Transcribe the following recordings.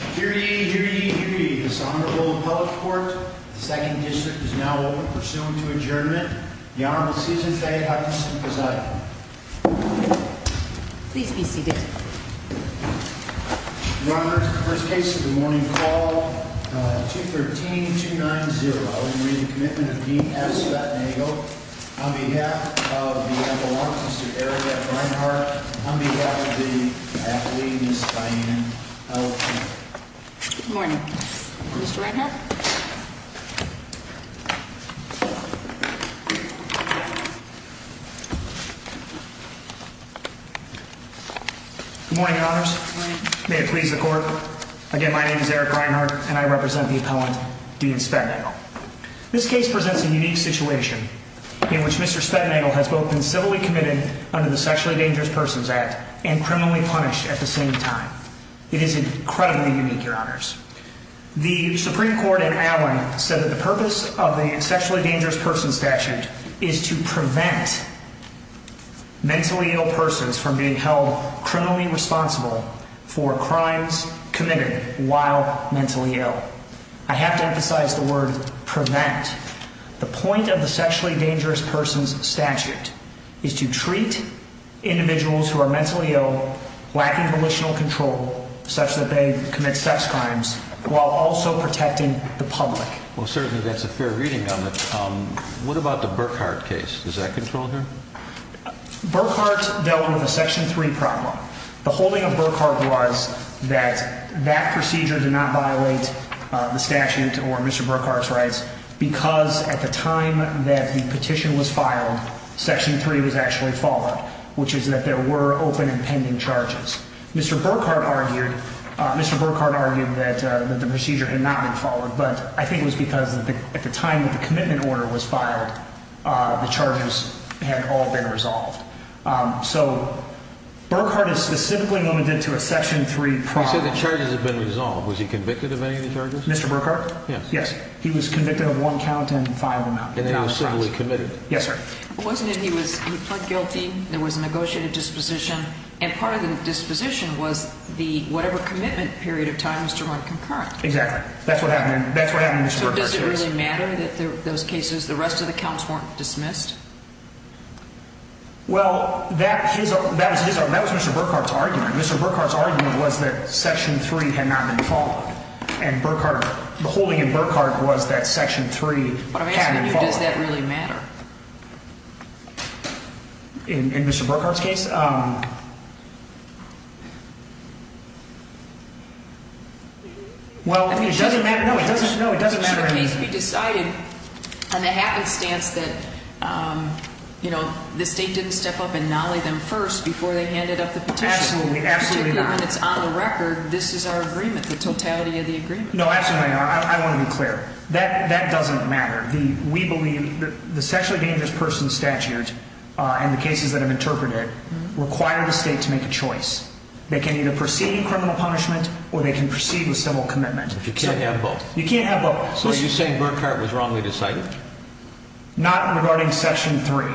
here. The second district is now over. Pursuant to adjournment, the Honorable Season's Day. Please be seated. First case of the morning call to 13 to 9 0. On behalf of area on behalf of the Oh, morning. Morning. May it please the court. Again, my name is Eric Reinhardt and I represent the appellant. Do you spend? This case presents a unique situation in which Mr Spetnagel has both been civilly committed under the sexually dangerous persons act and criminally punished at the same time. It is incredibly unique. Your honors. The Supreme Court in Allen said that the purpose of the sexually dangerous person statute is to prevent mentally ill persons from being held criminally responsible for crimes committed while mentally ill. I have to emphasize the word prevent. The point of the sexually dangerous persons statute is to treat individuals who are sex crimes while also protecting the public. Well, certainly that's a fair reading of it. What about the Burkhardt case? Does that control here? Burkhardt dealt with a section three problem. The holding of Burkhardt was that that procedure did not violate the statute or Mr Burkhardt's rights because at the time that the petition was filed, section three was actually followed, which is that there were open and pending charges. Mr Burkhardt Mr Burkhardt argued that the procedure had not been followed, but I think it was because at the time that the commitment order was filed, the charges had all been resolved. So Burkhardt is specifically limited to a section three problem. The charges have been resolved. Was he convicted of any of the charges? Mr Burkhardt? Yes, he was convicted of one count and filed him out. And then he was civilly committed. Yes, sir. It wasn't that he was guilty. There was a negotiated disposition, and part of the disposition was the whatever commitment period of time was to run concurrent. Exactly. That's what happened. That's what happened. Does it really matter that those cases, the rest of the counts weren't dismissed? Well, that was Mr Burkhardt's argument. Mr Burkhardt's argument was that section three had not been followed, and Burkhardt, the holding in Burkhardt was that section three had been followed. Does that really matter? In Mr Burkhardt's case, um well, it doesn't matter. No, it doesn't. No, it doesn't matter. It should be decided on the happenstance that, um, you know, the state didn't step up and nolly them first before they handed up the petition. Absolutely. Absolutely. When it's on the record, this is our agreement. The totality of the agreement. No, absolutely. I want to be clear that that doesn't matter. We believe the sexually dangerous person statute on the cases that have interpreted require the state to make a choice. They can either proceed in criminal punishment or they can proceed with civil commitment. You can't have both. You can't have both. So you're saying Burkhardt was wrongly decided? Not regarding section three.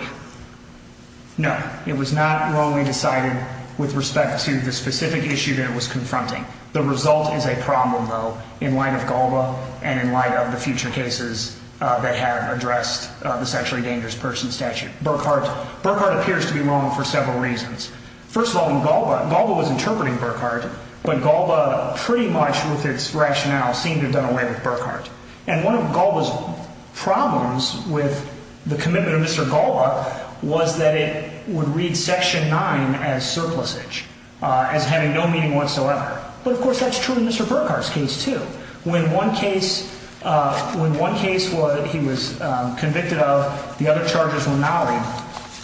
No, it was not wrongly decided with respect to the specific issue that was confronting. The result is a problem, though, in light of Galba and in light of the future cases they have addressed the sexually dangerous person statute. Burkhardt Burkhardt appears to be wrong for several reasons. First of all, Galba Galba was interpreting Burkhardt, but Galba pretty much with its rationale seemed to have done away with Burkhardt. And one of Galba's problems with the commitment of Mr Galba was that it would read section nine as surplus age as having no meaning whatsoever. But, of course, that's true in Mr Burkhardt's case, too. When one case when one case was he was convicted of the other charges were now read.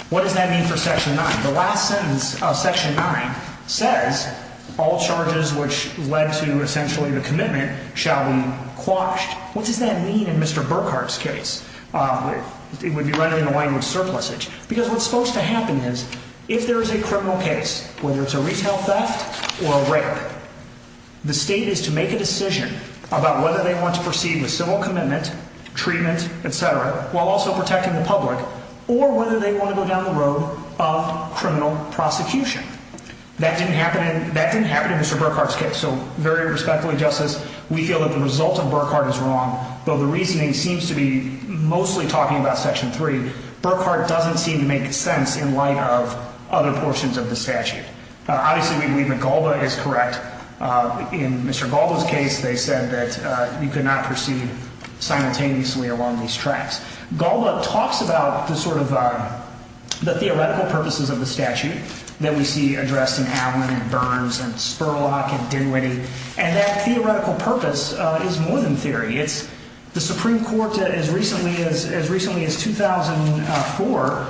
What does that mean for section nine? The last sentence of section nine says all charges which led to essentially the commitment shall be quashed. What does that mean in Mr Burkhardt's case? It would be running away with surplus age because what's supposed to happen is if there is a criminal case, whether it's a retail theft or rape, the state is to make a decision about whether they want to proceed with civil commitment, treatment, etcetera, while also protecting the public or whether they want to go down the road of criminal prosecution. That didn't happen. That didn't happen in Mr Burkhardt's case. So very respectfully, Justice, we feel that the result of Burkhardt is wrong, though the reasoning seems to be mostly talking about section three. Burkhardt doesn't seem to make sense in light of other portions of the statute. Obviously, we believe that Golda is correct. In Mr Golda's case, they said that you could not proceed simultaneously along these tracks. Golda talks about the sort of, uh, the theoretical purposes of the statute that we see addressed in Allen and Burns and Spurlock and Dinwiddie. And that theoretical purpose is more than theory. It's the Supreme Court. As recently as as recently as 2004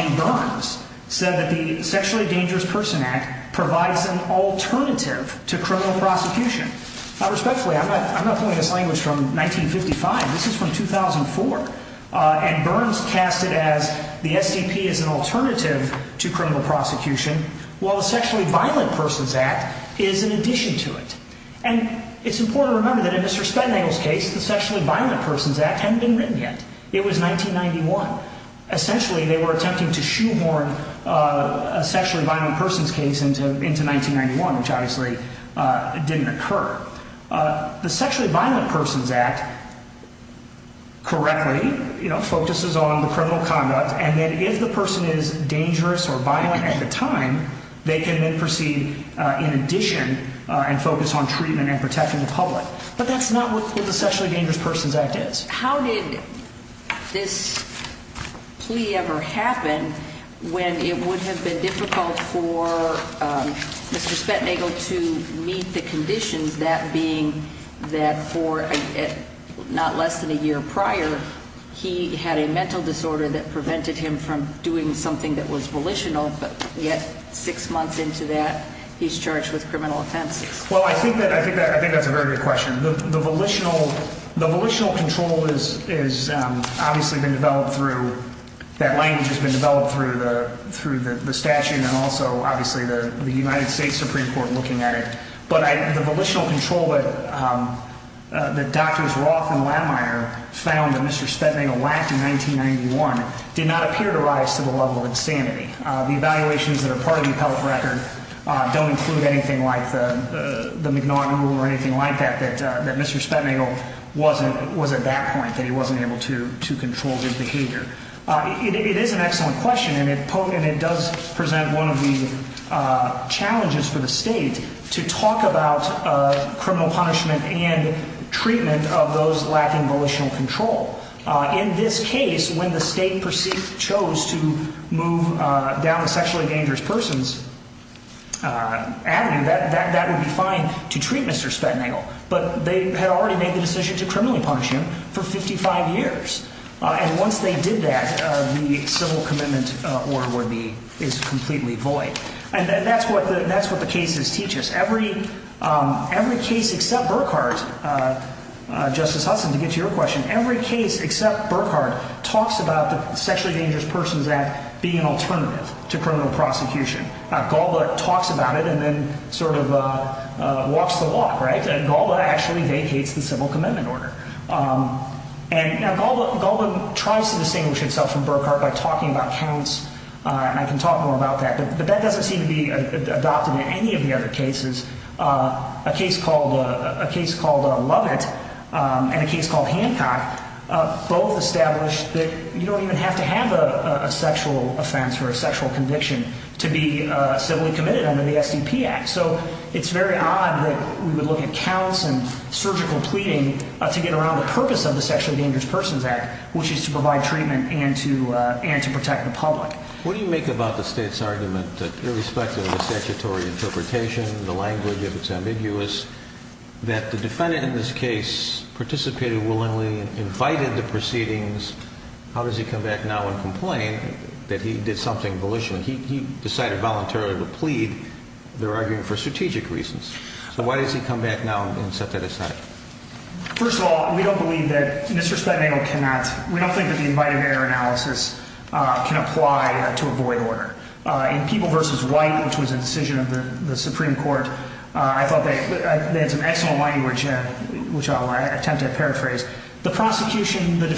in Burns said that the Sexually Dangerous Person Act provides an alternative to criminal prosecution. Respectfully, I'm not pulling this language from 1955. This is from 2004. Uh, and Burns cast it as the SDP is an alternative to criminal prosecution, while the Sexually Violent Persons Act is in addition to it. And it's important to remember that in Mr Spenninger's case, the Sexually Violent Persons Act hadn't been written yet. It was 1991. Essentially, they were a sexually violent person's case into into 1991, which obviously didn't occur. Uh, the Sexually Violent Persons Act correctly, you know, focuses on the criminal conduct. And then if the person is dangerous or violent at the time, they can then proceed in addition and focus on treatment and protecting the public. But that's not what the Sexually Dangerous Persons Act is. How did this plea ever happen when it would have been difficult for Mr Spenninger to meet the conditions that being that for not less than a year prior, he had a mental disorder that prevented him from doing something that was volitional. But yet, six months into that, he's charged with criminal offenses. Well, I think that I think that I think that's a very good question. The volitional the volitional control is is obviously been developed through that language has been developed through the through the statute and also obviously the United States Supreme Court looking at it. But the volitional control it, um, the doctors Roth and Landmeier found that Mr Spenninger lacked in 1991 did not appear to rise to the level of insanity. The evaluations that are part of the appellate record don't include anything like the McNaughton rule or anything like that, that Mr Spenninger wasn't was at that point that he wasn't able to to control his behavior. It is an excellent question, and it does present one of the challenges for the state to talk about criminal punishment and treatment of those lacking volitional control. In this case, when the state perceived chose to move down the sexually dangerous person's, uh, avenue that that would be fine to treat Mr Spenninger. But they had already made the decision to criminally punish him for 55 years. And once they did that, the civil commitment or would be is completely void. And that's what that's what the cases teach us. Every every case except Burkhardt, uh, Justice Hudson to get your question. Every case except Burkhardt talks about the Sexually Dangerous Persons Act being alternative to criminal prosecution. Galba talks about it and then sort of walks the walk, right? Galba actually vacates the civil commitment order. Um, and now Galba tries to distinguish itself from Burkhardt by talking about counts. I can talk more about that, but that doesn't seem to be adopted in any of the other cases. Ah, a case called a case called Love it on a case called Hancock. Both established that you don't even have to have a sexual offense or sexual conviction to be civilly committed under the SDP Act. So it's very odd that we would look at counts and surgical pleading to get around the purpose of the Sexually Dangerous Persons Act, which is to provide treatment and to and to protect the public. What do you make about the state's argument that irrespective of the statutory interpretation, the language of its ambiguous that the defendant in this case participated willingly, invited the proceedings. How does he come back now and complain that he did something volitionally? He decided voluntarily to plead. They're arguing for strategic reasons. So why does he come back now and set that aside? First of all, we don't believe that Mr Spaniel cannot. We don't think that the invited error analysis can apply to avoid order in people versus white, which was a decision of the Supreme Court. I thought they had some excellent language, which I'll attempt to paraphrase. The prosecution, the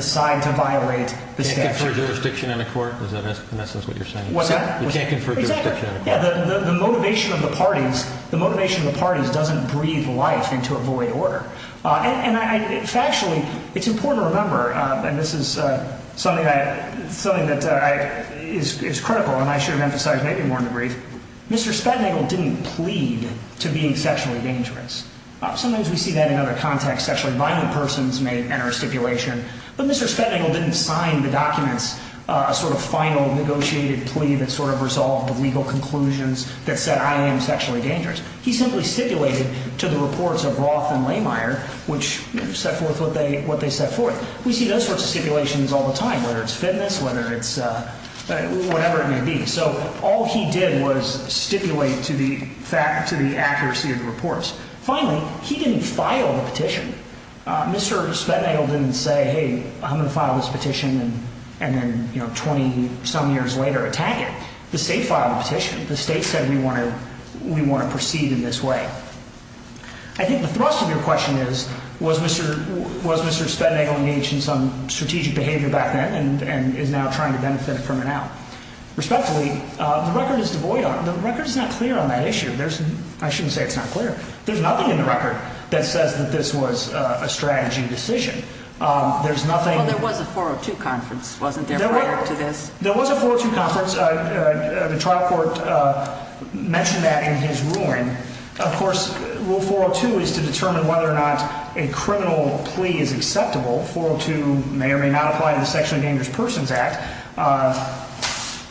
side to violate the jurisdiction in the court. Is that in essence what you're saying? What's that? You can't confirm. Yeah, the motivation of the parties, the motivation of the parties doesn't breathe life into avoid order. And I factually it's important to remember, and this is something that something that I is critical, and I should have emphasized maybe more in the brief. Mr Spaniel didn't plead to being sexually dangerous. Sometimes we see that in other context. Sexually violent persons may enter a stipulation, but Mr Spaniel didn't sign the documents sort of final negotiated plea that sort of resolved the legal conclusions that said I am sexually dangerous. He simply stipulated to the reports of Roth and Lehmeyer, which set forth what they what they set forth. We see those sorts of stipulations all the time, whether it's fitness, whether it's whatever it may be. So all he did was stipulate to the fact to the accuracy of the reports. Finally, he didn't say, Hey, I'm gonna file this petition and then 20 some years later attack it. The state filed a petition. The state said we want to we want to proceed in this way. I think the thrust of your question is, was Mr Was Mr Spaniel engaged in some strategic behavior back then and is now trying to benefit from it now. Respectfully, the record is devoid of the record is not clear on that issue. There's I shouldn't say it's not clear. There's nothing in the record that says that this was a strategy decision. There's nothing. There was a 402 conference wasn't there to this. There was a fortune conference. The trial court mentioned that in his ruling. Of course, rule 402 is to determine whether or not a criminal plea is acceptable. 402 may or may not apply to the sexually dangerous Persons Act.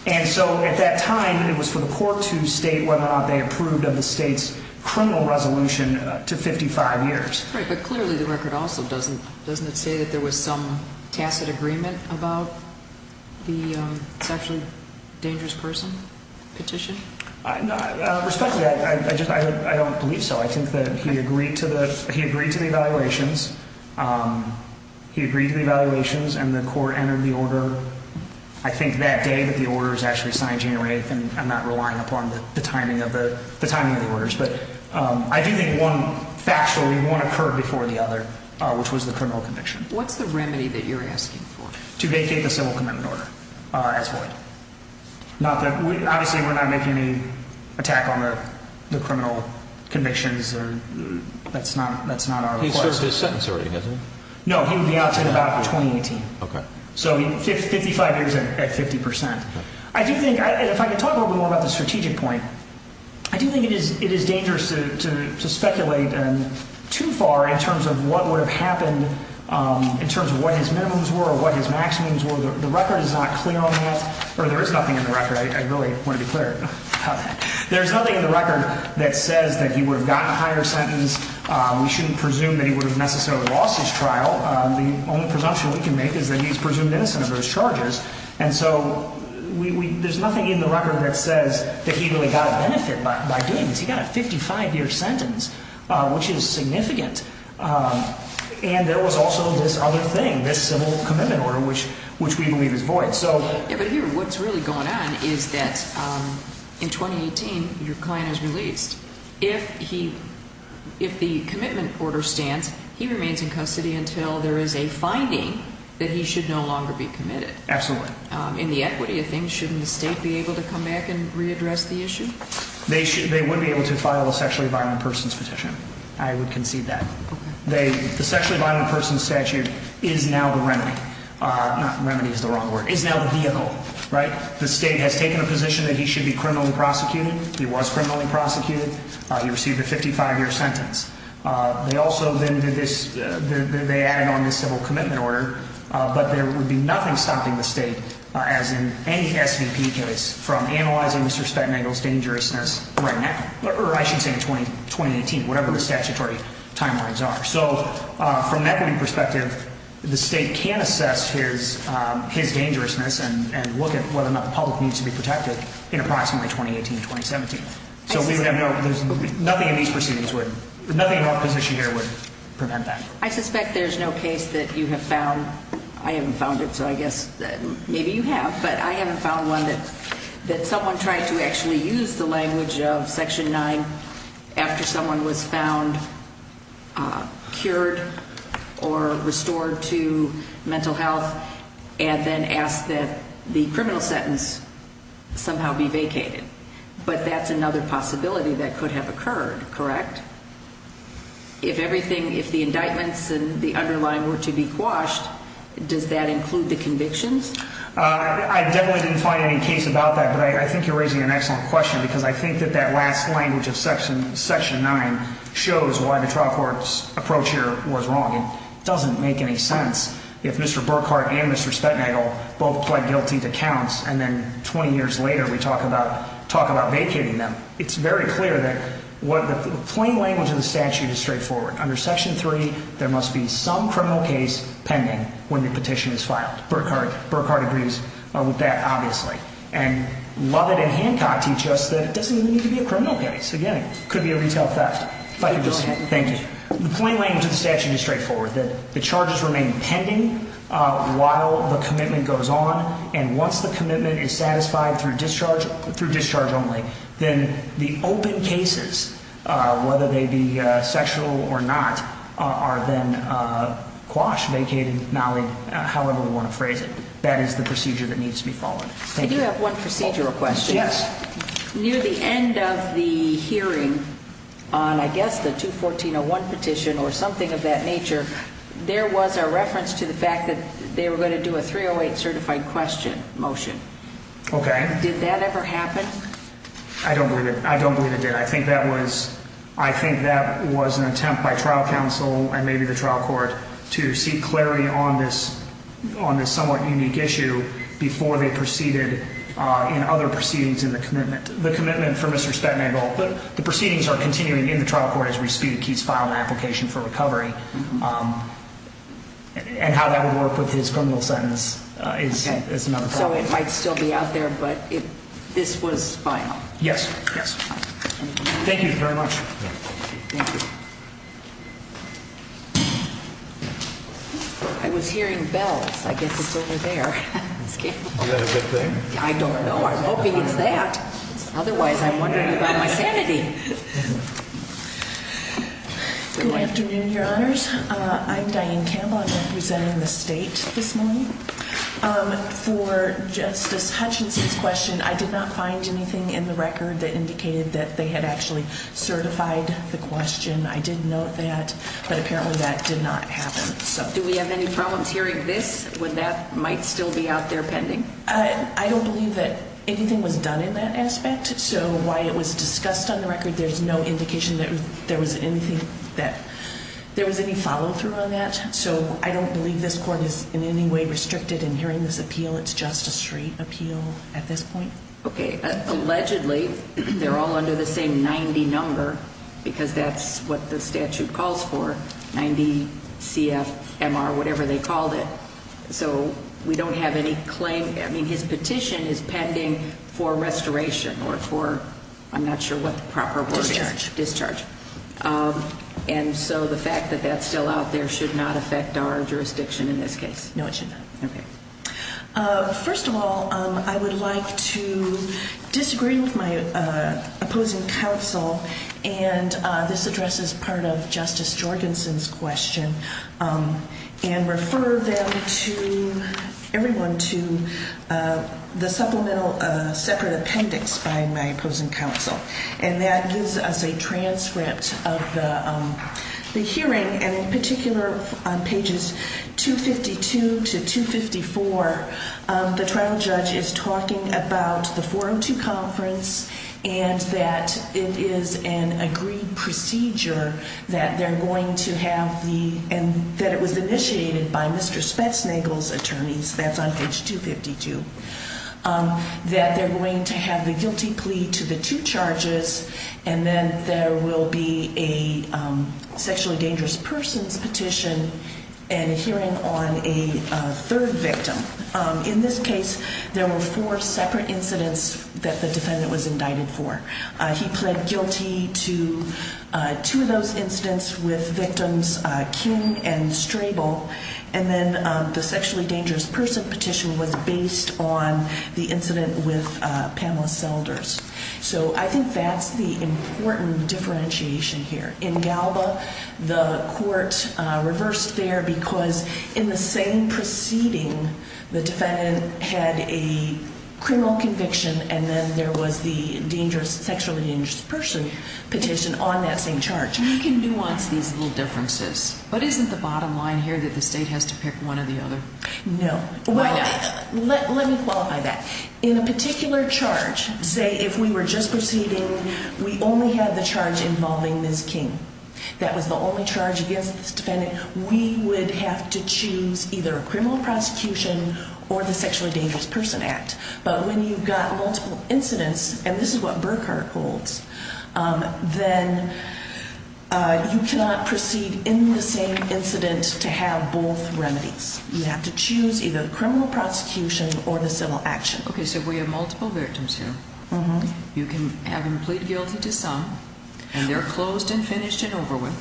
And so at that time, it was for the court to state whether or not they criminal resolution to 55 years. But clearly the record also doesn't doesn't say that there was some tacit agreement about the sexually dangerous person petition. I don't believe so. I think that he agreed to the he agreed to the evaluations. Um, he agreed to the evaluations and the court entered the order. I think that day that the order is actually signed January 8th and I'm relying upon the timing of the timing of the orders. But I do think one factually won't occur before the other, which was the criminal conviction. What's the remedy that you're asking for to vacate the civil commitment order as well? Not that we obviously we're not making any attack on the criminal convictions or that's not. That's not a sentence. No, he would be out in about 2018. So 55 years at 50%. I do think if I could talk a little more about the strategic point, I do think it is. It is dangerous to speculate and too far in terms of what would have happened in terms of what his minimums were, what his maximums were. The record is not clear on that, or there is nothing in the record. I really want to be clear. There's nothing in the record that says that he would have gotten a higher sentence. We shouldn't presume that he would have necessarily lost his trial. The only presumption we can make is that he's presumed innocent of those charges. And so we there's nothing in the record that says that he really got a benefit by doing this. He got a 55 year sentence, which is significant. And there was also this other thing, this civil commitment order, which which we believe is void. So what's really going on is that in 2018 your client is released. If he if the commitment order stands, he remains in custody until there is a finding that he should no longer be committed. In the equity of things, shouldn't the state be able to come back and readdress the issue? They should. They would be able to file a sexually violent person's petition. I would concede that the sexually violent person statute is now the remedy. Remedy is the wrong word is now the vehicle, right? The state has taken a position that he should be criminally prosecuted. He was criminally prosecuted. He received a 55 year sentence. They also then did this. They added on this civil commitment order, but there would be nothing stopping the state, as in any S. V. P. Case from analyzing Mr Spector angles dangerousness right now, or I should say in 20 2018, whatever the statutory timelines are. So from equity perspective, the state can assess his his dangerousness and look at whether or not the public needs to be protected in approximately 2018 2017. So we would have no there's nothing in these proceedings would nothing in opposition here would prevent that. I suspect there's no case that you have found. I haven't found it, so I guess maybe you have, but I haven't found one that that someone tried to actually use the language of Section nine after someone was found cured or restored to mental health and then asked that the criminal sentence somehow be heard. Correct. If everything, if the indictments and the underlying were to be quashed, does that include the convictions? I definitely didn't find any case about that, but I think you're raising an excellent question because I think that that last language of section section nine shows why the trial court's approach here was wrong and doesn't make any sense. If Mr Burkhardt and Mr Spetnagle both pled guilty to counts and then 20 years later, we talk about talk about vacating them. It's very clear that what the plain language of the statute is straightforward. Under section three, there must be some criminal case pending when the petition is filed. Burkhardt Burkhardt agrees with that, obviously, and love it. And Hancock teach us that it doesn't need to be a criminal case again. Could be a retail theft. Thank you. The plain language of the statute is straightforward that the charges remain pending while the commitment goes on. And once the discharge through discharge only, then the open cases, whether they be sexual or not, are then quashed, vacated, malleable, however you want to phrase it. That is the procedure that needs to be followed. Thank you. Have one procedural question. Yes. Near the end of the hearing on, I guess the 2 14 or one petition or something of that nature, there was a reference to the Okay. Did that ever happen? I don't believe it. I don't believe it did. I think that was I think that was an attempt by trial counsel and maybe the trial court to see clarity on this on this somewhat unique issue before they proceeded in other proceedings in the commitment, the commitment for Mr Spatman. But the proceedings are continuing in the trial court. His respect keeps filing application for recovery. Um, and how that would work with his criminal sentence is not so it might still be out there. But this was final. Yes. Yes. Thank you very much. I was hearing bells. I guess it's over there. I don't know. I'm hoping it's that. Otherwise, I wonder about my sanity. Yeah. Good afternoon, Your Honors. I'm dying. Camel representing the state this morning. Um, for Justice Hutchinson's question, I did not find anything in the record that indicated that they had actually certified the question. I didn't know that. But apparently that did not happen. So do we have any problems hearing this when that might still be out there pending? I don't believe that anything was done in that aspect. So why it was discussed on the record. There's no indication that there was anything that there was any follow through on that. So I don't believe this court is in any way restricted in hearing this appeal. It's just a straight appeal at this point. Okay. Allegedly, they're all under the same 90 number because that's what the statute calls for. 90 C. F. M. R. Whatever they called it. So we don't have any claim. I mean, his petition is pending for restoration or for I'm not sure what proper discharge discharge. Um, and so the fact that that's still out there should not affect our jurisdiction in this case. No, it should not. Okay. Uh, first of all, I would like to disagree with my opposing counsel. And this addresses part of Justice Jorgensen's question. Um, and refer them to everyone to, uh, the supplemental separate appendix by my opposing counsel. And that gives us a transcript of the hearing and in particular on pages 2 52 to 2 54. The trial judge is talking about the forum to conference and that it is an agreed procedure that they're going to have the and that it was initiated by Mr Spetsnagel's attorneys. That's on page 2 52. Um, that they're going to have the guilty plea to the two charges. And then there will be a sexually dangerous persons petition and hearing on a third victim. Um, in this case, there were four separate incidents that the defendant was indicted for. He pled guilty to two of those incidents with based on the incident with Pamela Selders. So I think that's the important differentiation here in Galba. The court reversed there because in the same proceeding, the defendant had a criminal conviction and then there was the dangerous sexually dangerous person petition on that same charge. You can nuance these little differences. But isn't the bottom line here that the let let me qualify that in a particular charge. Say if we were just proceeding, we only have the charge involving this king. That was the only charge against this defendant. We would have to choose either a criminal prosecution or the sexually dangerous person act. But when you've got multiple incidents and this is what Burkhardt holds, um, then, uh, you cannot proceed in the same incident to have both remedies. You have to choose either criminal prosecution or the civil action. Okay, so we have multiple victims here. You can have him plead guilty to some and they're closed and finished and over with.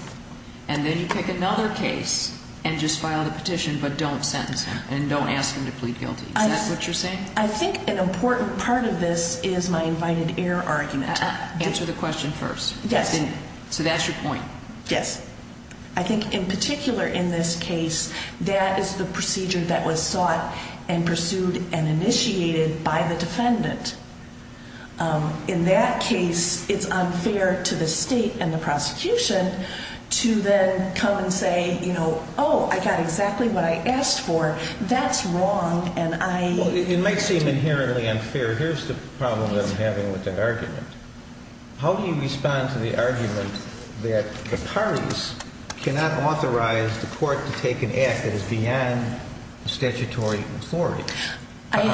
And then you pick another case and just file the petition. But don't sentence him and don't ask him to plead guilty. That's what you're saying. I think an important part of this is my invited air argument. Answer the question first. Yes. So that's your point. Yes. I think in particular, in this case, that is the procedure that was sought and pursued and initiated by the defendant. Um, in that case, it's unfair to the state and the prosecution to then come and say, you know, Oh, I got exactly what I asked for. That's wrong. And I, it might seem inherently unfair. Here's the problem that I'm having with that argument. How do you respond to the argument that the court to take an act that is beyond statutory authority? How do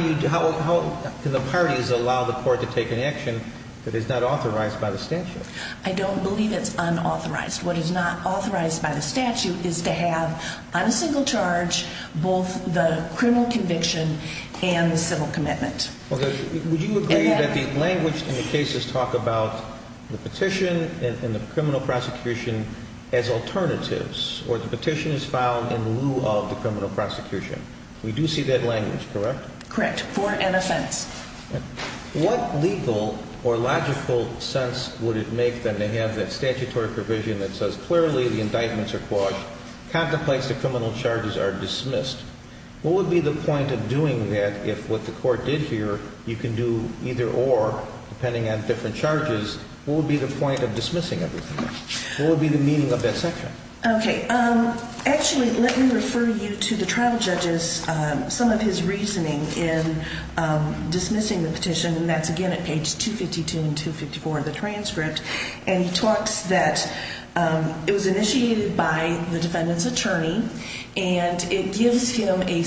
you, how can the parties allow the court to take an action that is not authorized by the statute? I don't believe it's unauthorized. What is not authorized by the statute is to have on a single charge both the criminal conviction and the civil commitment. Would you agree that the language in the cases talk about the petition and the criminal prosecution as alternatives or the petition is found in lieu of the criminal prosecution? We do see that language, correct? Correct. For an offense. What legal or logical sense would it make them to have that statutory provision that says clearly the indictments are caused contemplates the criminal charges are dismissed. What would be the point of doing that? If what the court did here you can do either or depending on different charges will be the point of dismissing everything will be the meaning of that section. Okay. Um actually let me refer you to the trial judges. Um some of his reasoning in um dismissing the petition and that's again at page 2 52 and 2 54 of the transcript and he talks that um it was initiated by the defendant's attorney and it gives him a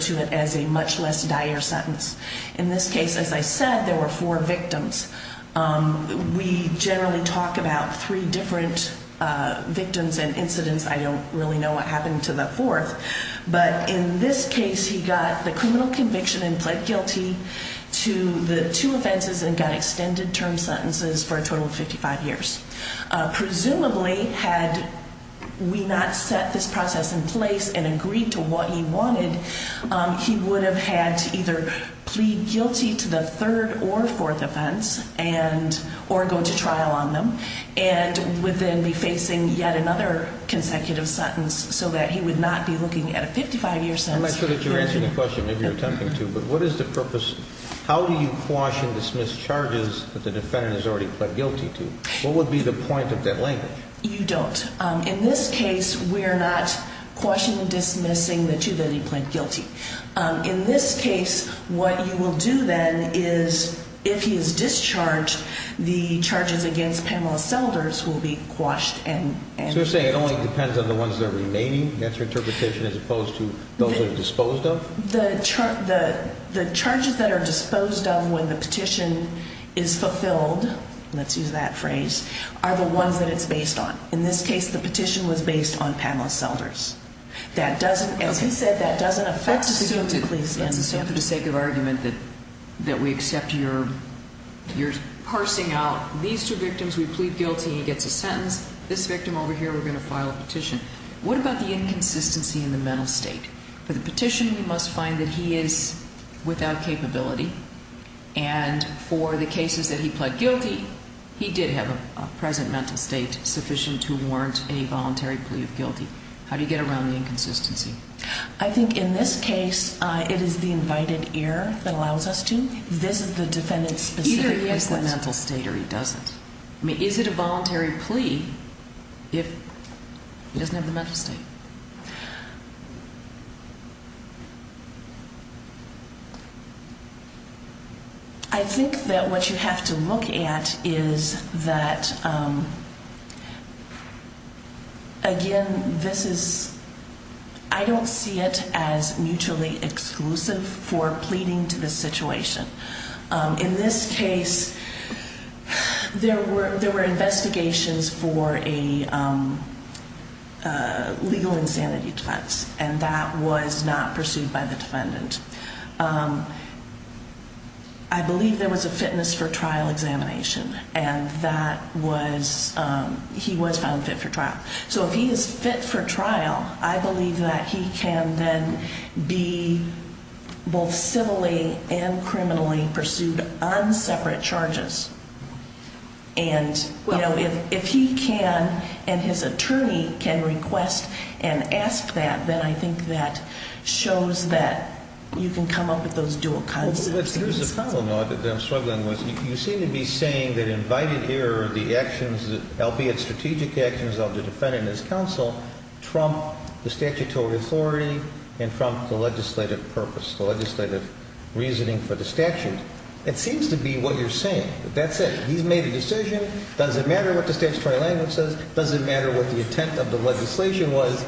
to it as a much less dire sentence. In this case as I said there were four victims. Um we generally talk about three different victims and incidents. I don't really know what happened to the fourth but in this case he got the criminal conviction and pled guilty to the two offenses and got extended term sentences for a total of 55 years. Uh presumably had we not set this process in place and agreed to what he wanted um he would have had to either plead guilty to the third or fourth offense and or go to trial on them and would then be facing yet another consecutive sentence so that he would not be looking at a 55 year sentence. I'm not sure that you're answering the question if you're attempting to but what is the purpose? How do you quash and dismiss charges that the defendant has already pled guilty to? What would be the point of that language? You don't um in this case we're not questioning dismissing the two that he pled guilty. Um in this case what you will do then is if he is discharged the charges against Pamela selders will be quashed and you're saying it only depends on the ones that are remaining. That's your interpretation as opposed to those are disposed of the the charges that are disposed of when the petition is fulfilled. Let's use that phrase are the ones that it's based on. In this case, the petition was based on Pamela selders. That doesn't as he said, that doesn't affect the police. And so for the sake of argument that that we accept your you're parsing out these two victims, we plead guilty, he gets a sentence. This victim over here, we're going to file a petition. What about the inconsistency in the mental state for the petition? We must find that he is without capability and for the cases that he pled guilty, he did have a present mental state sufficient to warrant a voluntary plea of guilty. How do you get around the inconsistency? I think in this case it is the invited ear that allows us to visit the defendant's mental state or he doesn't. I mean, is it a voluntary plea if he doesn't have the mental state? Mhm. I think that what you have to look at is that, um, again, this is, I don't see it as mutually exclusive for pleading to the situation. Um, in this case, there were, there were investigations for a, um, uh, legal insanity defense and that was not pursued by the defendant. Um, I believe there was a fitness for trial examination and that was, um, he was found fit for trial. So if he is fit for trial, I believe that he can then be both civilly and criminally pursued on separate charges. And you know, if he can and his attorney can request and ask that, then I think that shows that you can come up with those dual concepts. There's a problem that I'm struggling with. You seem to be saying that invited here the actions, albeit strategic actions of the defendant, his counsel trump the legislative purpose, the legislative reasoning for the statute. It seems to be what you're saying. That's it. He's made a decision. Doesn't matter what the statutory language says. Doesn't matter what the intent of the legislation was.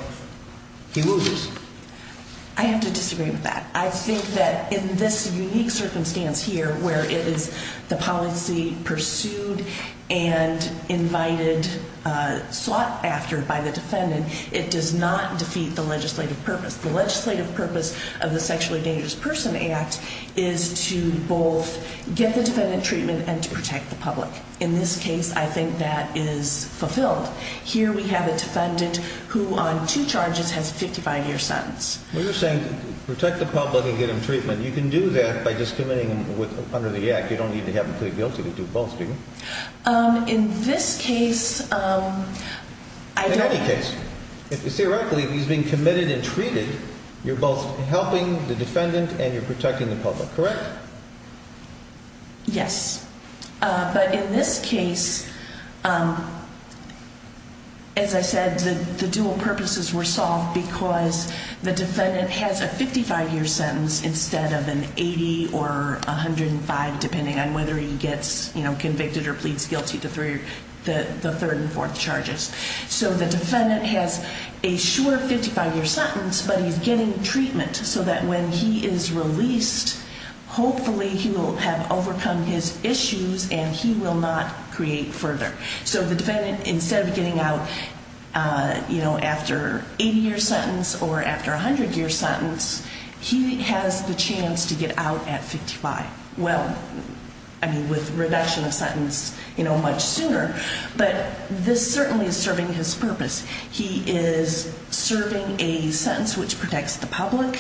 He loses. I have to disagree with that. I think that in this unique circumstance here where it is the policy pursued and invited, uh, sought after by the defendant, it does not defeat the legislative purpose. The of the sexually dangerous person act is to both get the defendant treatment and to protect the public. In this case, I think that is fulfilled. Here we have a defendant who on two charges has 55 year sentence. We're saying protect the public and get him treatment. You can do that by just committing with under the act. You don't need to have a guilty to do both. Um, in this case, um, I don't if you say rightly, he's being committed and treated. You're both helping the defendant and you're protecting the public, correct? Yes. But in this case, um, as I said, the dual purposes were solved because the defendant has a 55 year sentence instead of an 80 or 105, depending on whether he gets convicted or pleads guilty to three, the third and fourth charges. So the defendant has a short 55 year sentence, but he's getting treatment so that when he is released, hopefully he will have overcome his issues and he will not create further. So the defendant, instead of getting out, uh, you know, after 80 year sentence or after 100 year sentence, he has the chance to get out at 55. Well, I mean, with reduction of sentence, you know, much sooner, but this certainly is serving his purpose. He is serving a sentence which protects the public.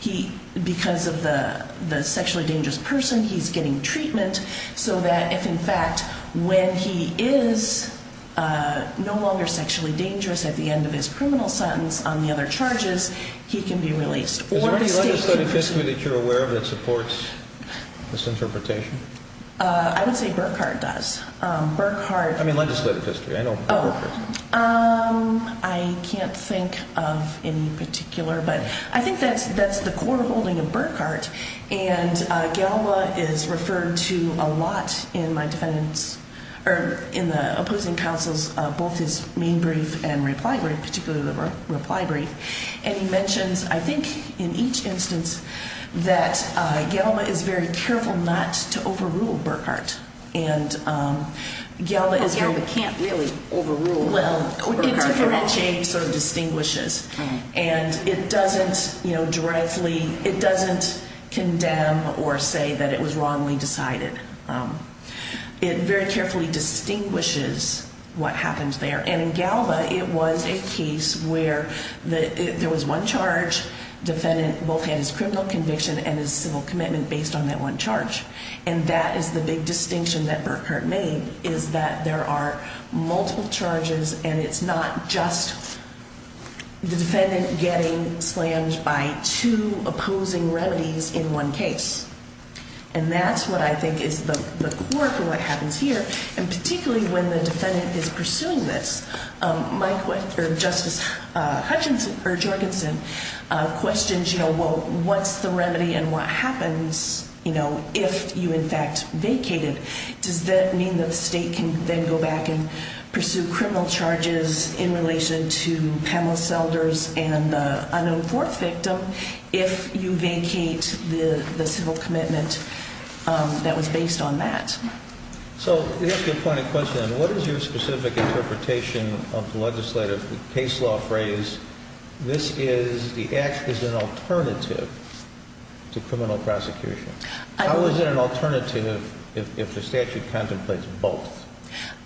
He, because of the sexually dangerous person, he's getting treatment so that if, in fact, when he is, uh, no longer sexually dangerous at the end of his criminal sentence on the other charges, he can be released. Is there any legislative history that you're aware of that supports this interpretation? I would say Burkhardt does. Um, Burkhardt. I mean, legislative history. I know. Um, I can't think of any particular, but I think that that's the core holding of Burkhardt. And Galva is referred to a lot in my defendant's or in the opposing counsel's both his main brief and reply brief, particularly the reply brief. And he mentions, I think, in each instance that Galva is very careful not to overrule Burkhardt. And, um, Galva is, Galva can't really overrule. Well, it differentiates or distinguishes, and it doesn't, you know, directly, it doesn't condemn or say that it was wrongly decided. Um, it very carefully distinguishes what happens there. And Galva, it was a case where there was one charge. Defendant both had his criminal conviction and his civil commitment based on that one charge. And that is the big distinction that Burkhardt made is that there are multiple charges, and it's not just the defendant getting slammed by two opposing remedies in one case. And that's what I think is the work of what Mike or Justice Hutchinson or Jorgensen questions. You know, what's the remedy and what happens? You know, if you in fact vacated, does that mean that the state can then go back and pursue criminal charges in relation to Pamela Selders and unknown fourth victim? If you vacate the civil commitment that was based on that. So here's the point of question. What is your specific interpretation of the legislative case law phrase? This is the act is an alternative to criminal prosecution. How is it an alternative if the statute contemplates both?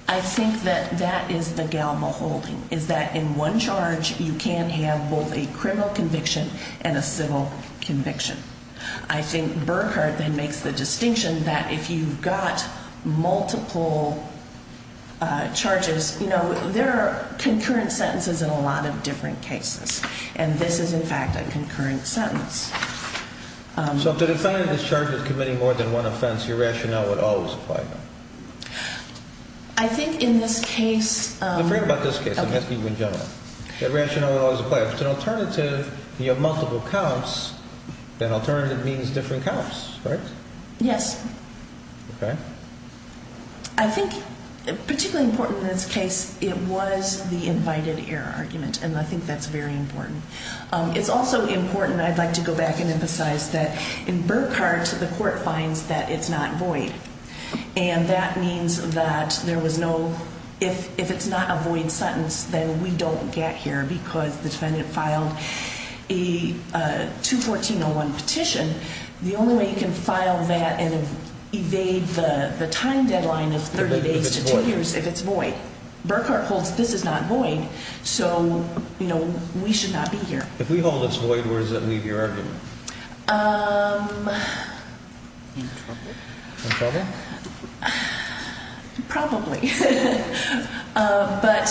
I think that that is the Galva holding. Is that in one charge, you can't have both a criminal conviction and a civil conviction. I know there are concurrent sentences in a lot of different cases, and this is, in fact, a concurrent sentence. So the defendant is charged with committing more than one offense. Your rationale would always apply. I think in this case, I'm afraid about this case. I'm asking you in general that rationale was a player. It's an alternative. You have multiple counts. That alternative means different counts, right? Yes. Okay. I think particularly important in this case, it was the invited air argument, and I think that's very important. It's also important. I'd like to go back and emphasize that in Burkhardt, the court finds that it's not void, and that means that there was no if if it's not avoid sentence, then we don't get here because the defendant filed a 2 14 0 1 petition. The only way you can file that and evade the time deadline of 30 days to two years if it's boy Burkhardt holds, this is not void. So you know, we should not be here. If we hold this void, where does that leave your argument? Um, probably. But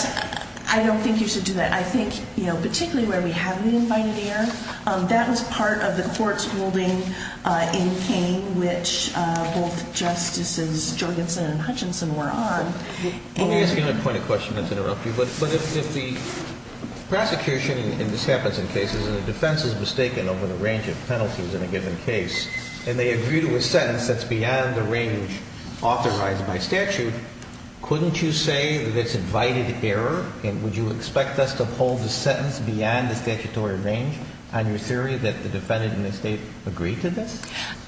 I don't think you should do that. I think, you know, particularly where we have been invited here. That was part of the court's ruling in pain, which both justices Jorgensen Hutchinson were on. Let me ask you a point of question to interrupt you. But if the prosecution in this happens in the defense is mistaken over the range of penalties in a given case, and they agree to a sentence that's beyond the range authorized by statute, couldn't you say that's invited error? And would you expect us to hold the sentence beyond the statutory range on your theory that the defendant in the state agreed to this?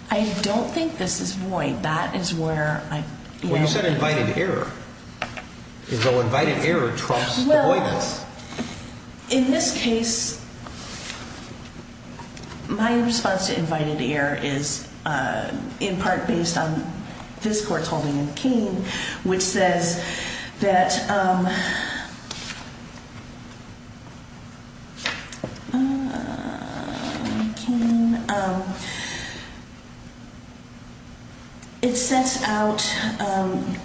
I don't think this is void. That is where I said invited error is invited. Error trumps avoidance. In this case, my response to invited here is in part based on this court's holding of keen, which says that, um, uh, can, um, it sets out, um,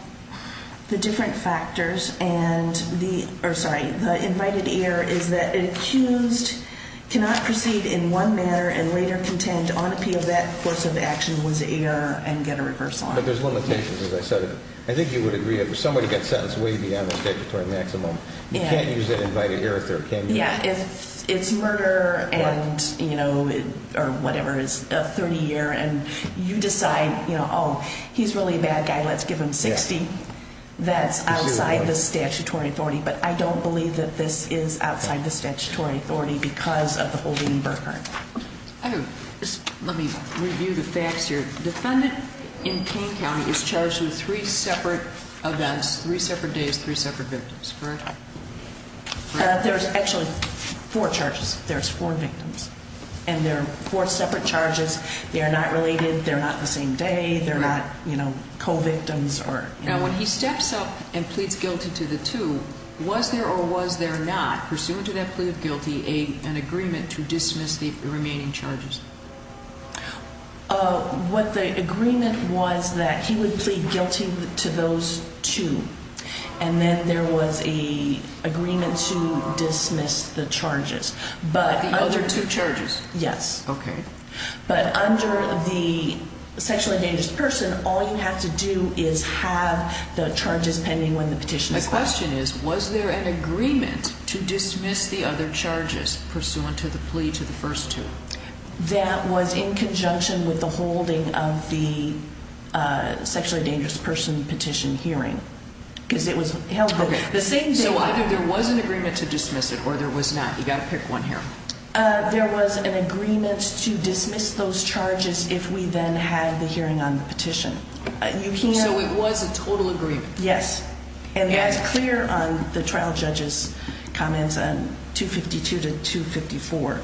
the different factors and the or sorry, invited here is that accused cannot proceed in one manner and later contend on appeal. That course of action was a year and get a reversal. But there's limitations. As I said, I think you would agree that somebody got sentenced way beyond the statutory maximum. You can't use that invited here if they're can. Yeah, it's murder and you know, or whatever is a 30 year and you decide, you know, he's really a bad guy. Let's give him 60. That's outside the statutory authority. But I don't believe that this is outside the statutory authority because of the holding Burkhardt. Let me review the facts here. Defendant in King County is charged with three separate events, three separate days, three separate victims, correct? There's actually four charges. There's four victims and they're four separate charges. They're not related. They're not the same day. They're not, you know, when he steps up and pleads guilty to the two, was there or was there not pursuant to that plea of guilty a an agreement to dismiss the remaining charges? What the agreement was that he would plead guilty to those two. And then there was a agreement to dismiss the charges. But other two charges. Yes. Okay. But under the sexually dangerous person, all you have to do is have the charges pending when the petition. The question is, was there an agreement to dismiss the other charges pursuant to the plea to the first two? That was in conjunction with the holding of the sexually dangerous person petition hearing because it was held the same. So either there was an agreement to dismiss those charges if we then had the hearing on the petition. So it was a total agreement? Yes. And that's clear on the trial judges comments on 2 52 to 2 54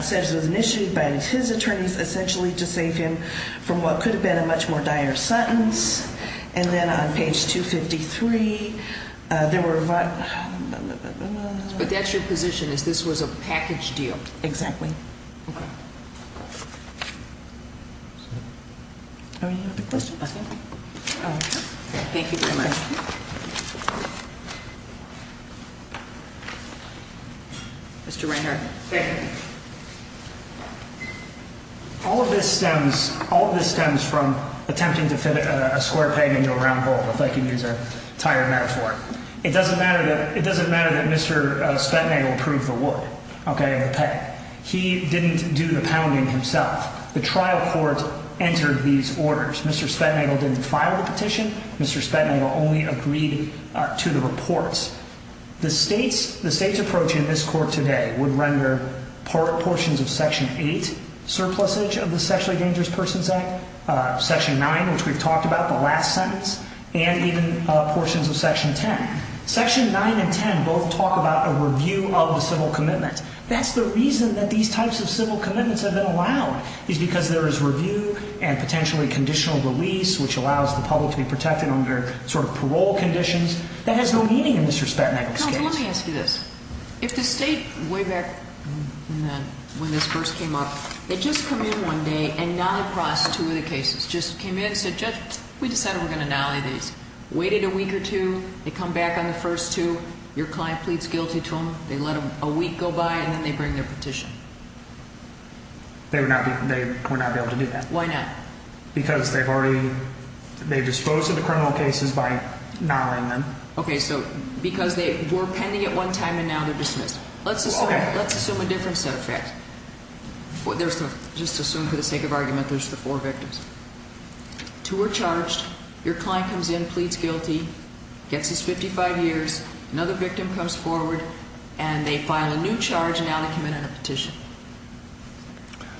says was initiated by his attorneys essentially to save him from what could have been a much more dire sentence. And then on page 2 53 there were, but that's your position is this was a package deal. Exactly. Yeah. I mean, you have a question. Thank you very much. Mr Rainer. All of this stems all of this stems from attempting to fit a square pain into a round hole. If I can use a tire now for it doesn't matter. It doesn't matter that Mr Spenning approved the wood. Okay, he didn't do the pounding himself. The trial court entered these orders. Mr Spenning didn't file the petition. Mr Spenning only agreed to the reports. The state's the state's approach in this court today would render part portions of Section eight surplus age of the sexually dangerous persons Act Section nine, which we've talked about the last sentence and even portions of Section 10 Section nine and 10 both talk about a review of the civil commitment. That's the reason that these types of civil commitments have been allowed is because there is review and potentially conditional release, which allows the public to be protected under sort of parole conditions that has no meaning in this respect. Let me ask you this. If the state way back when this first came up, they just come in one day and not two of the cases just came in and said, just we decided we're gonna nolly. These waited a week or two. They come back on the first to your client pleads guilty to him. They let a week go by and then they bring their petition. They would not be. They would not be able to do that. Why not? Because they've already they dispose of the criminal cases by not only men. Okay, so because they were pending at one time and now they're dismissed. Let's assume let's assume a different set of facts. There's just assume for the sake of argument. There's the four victims to were charged. Your client comes in, pleads guilty, gets his 55 years. Another victim comes forward and they file a new charge. Now they come in on a petition.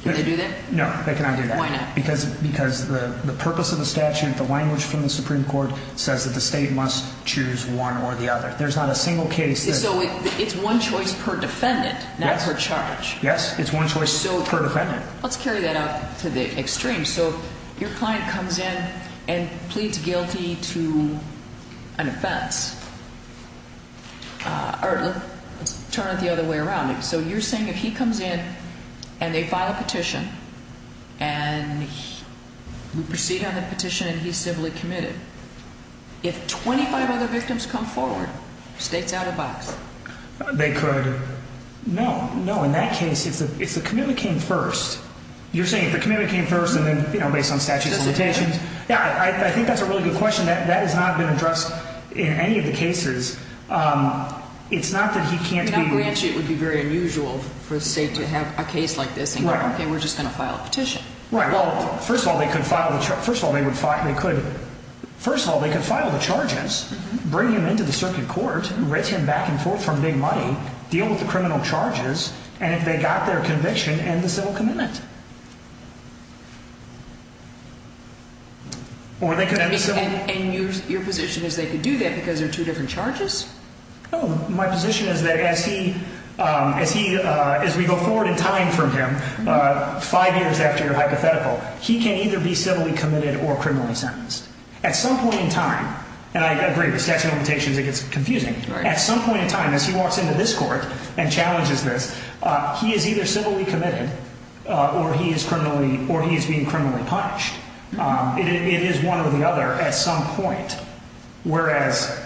They do that. No, they cannot do that. Why not? Because because the purpose of the statute, the language from the Supreme Court says that the state must choose one or the other. There's not a single case. So it's one choice per defendant. Let's carry that out to the extreme. So your client comes in and pleads guilty to an offense. Uh, turn it the other way around. So you're saying if he comes in and they file a petition and we proceed on the petition and he's civilly committed, if 25 other victims come forward states out of box, they could. No, no. In that case, it's the it's the community came first. You're saying the community came first and then, you know, based on statutes of limitations. Yeah, I think that's a really good question that that has not been addressed in any of the cases. Um, it's not that he can't be. It would be very unusual for the state to have a case like this. Okay, we're just gonna file a petition. Well, first of all, they could file the first of all, they would fight. They could. First of all, they could file the charges, bring him into the circuit court, written back and forth from big money, deal with the criminal charges. And if they got their conviction and the civil commitment, or they could have your position is they could do that because they're two different charges. My position is that as he, um, as he, uh, as we go forward in time from him, uh, five years after your hypothetical, he can either be civilly committed or criminally sentenced at some point in time. And I mean, as he walks into this court and challenges this, he is either civilly committed or he is criminally or he is being criminally punished. It is one or the other at some point, whereas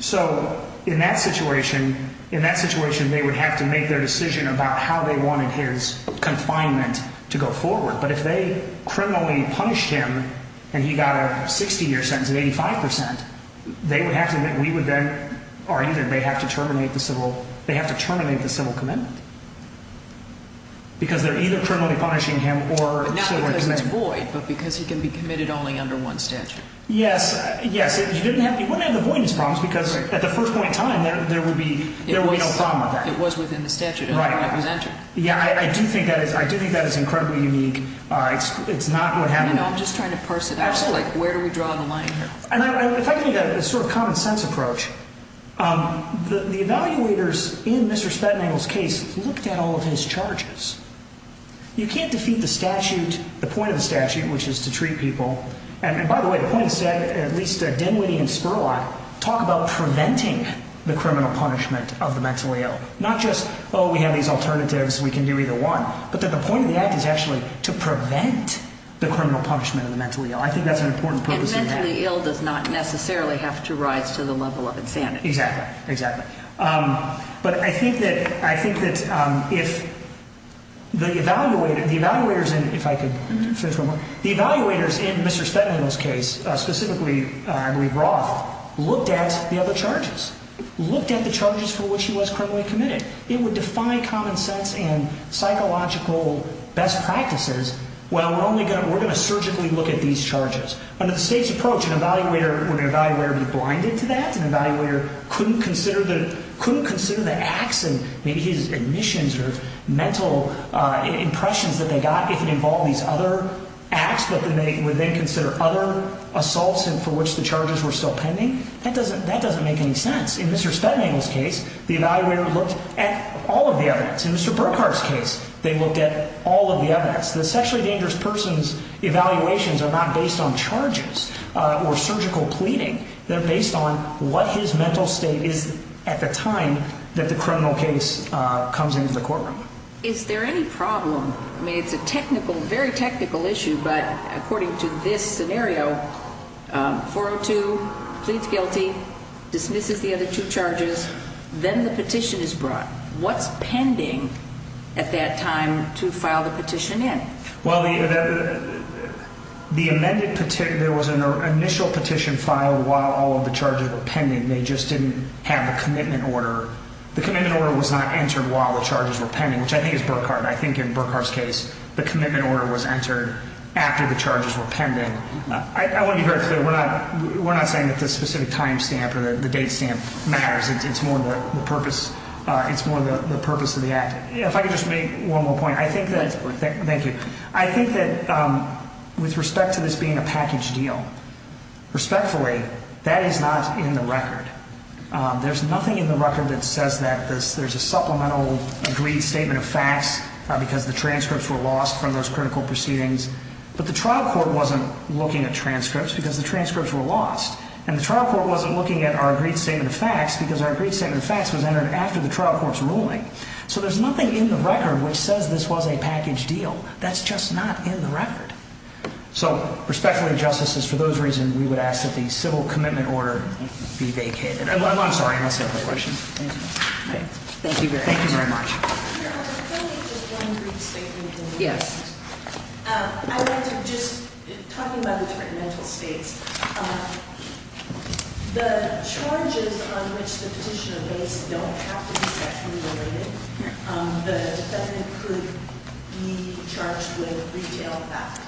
so in that situation, in that situation, they would have to make their decision about how they wanted his confinement to go forward. But if they criminally punished him and he got a 60 year sentence, 85% they would have to admit we would then or either they have to terminate the civil. They have to terminate the civil commitment because they're either criminally punishing him or void. But because he can be committed only under one statute. Yes, yes, you didn't have. You wouldn't have the voice problems because at the first point time there would be there would be no problem. It was within the statute. Yeah, I do think that is. I do think that is incredibly unique. It's not what happened. I'm just trying to and if I can get a sort of common sense approach, um, the evaluators in Mr Spetnagel's case looked at all of his charges. You can't defeat the statute. The point of the statute, which is to treat people. And by the way, the point is said, at least, uh, Denwitty and Spurlock talk about preventing the criminal punishment of the mentally ill, not just, Oh, we have these alternatives. We can do either one. But the point of the act is actually to prevent the criminal punishment of the mentally ill. I think that's an ill does not necessarily have to rise to the level of insanity. Exactly. Exactly. Um, but I think that I think that, um, if the evaluator, the evaluators and if I could finish the evaluators in Mr Spetnagel's case, specifically, I believe Roth looked at the other charges, looked at the charges for which he was criminally committed. It would define common sense and psychological best practices. Well, we're only gonna we're gonna surgically look at these charges under the state's approach. An evaluator would evaluator be blinded to that and evaluator couldn't consider that couldn't consider the acts and maybe his admissions or mental impressions that they got if it involved these other acts. But then they would then consider other assaults and for which the charges were still pending. That doesn't That doesn't make any sense. In Mr Spetnagel's case, the evaluator looked at all of the evidence in Mr Burkhardt's case. They looked at all of the evidence. The sexually dangerous person's evaluations are not based on charges or surgical pleading. They're based on what his mental state is at the time that the criminal case comes into the courtroom. Is there any problem? I mean, it's a technical, very technical issue. But according to this scenario, 402 pleads guilty, dismisses the other two charges. Then the petition is brought. What's pending at that time to file the petition in? Well, the the amended petition, there was an initial petition filed while all of the charges were pending. They just didn't have a commitment order. The commitment order was not entered while the charges were pending, which I think is Burkhardt. I think in Burkhardt's case, the commitment order was entered after the charges were pending. I want you very clear. We're not We're not saying that the specific time stamp or the date stamp matters. It's more of the purpose. It's more of the purpose of the act. If I could just make one more point, I think that thank you. I think that, um, with respect to this being a package deal respectfully, that is not in the record. There's nothing in the record that says that this there's a supplemental agreed statement of facts because the transcripts were lost from those critical proceedings. But the trial court wasn't looking at transcripts because the transcripts were lost, and the trial court wasn't looking at our agreed statement of facts because our agreed statement of the trial court's ruling. So there's nothing in the record which says this was a package deal. That's just not in the record. So respectfully, justices, for those reasons, we would ask that the civil commitment order be vacated. I'm sorry. That's not my question. Thank you. Thank you very much. Yes. I want to just talking about the different mental states, the charges on which the petitioner base don't it? He charged with retail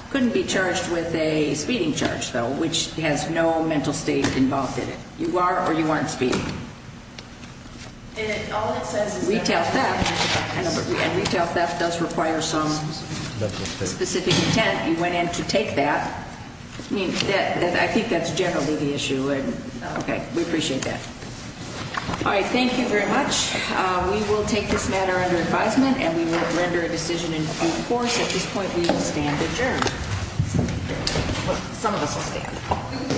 couldn't be charged with a speeding charge, though, which has no mental state involved in it. You are or you aren't speaking. And all it says is retail theft and retail theft does require some specific intent. You went in to take that. I mean, I think that's generally the issue. Okay. We appreciate that. All right. Thank you very much. We will take this matter under advisement, and we will render a decision in force. At this point, we stand adjourned. Some of us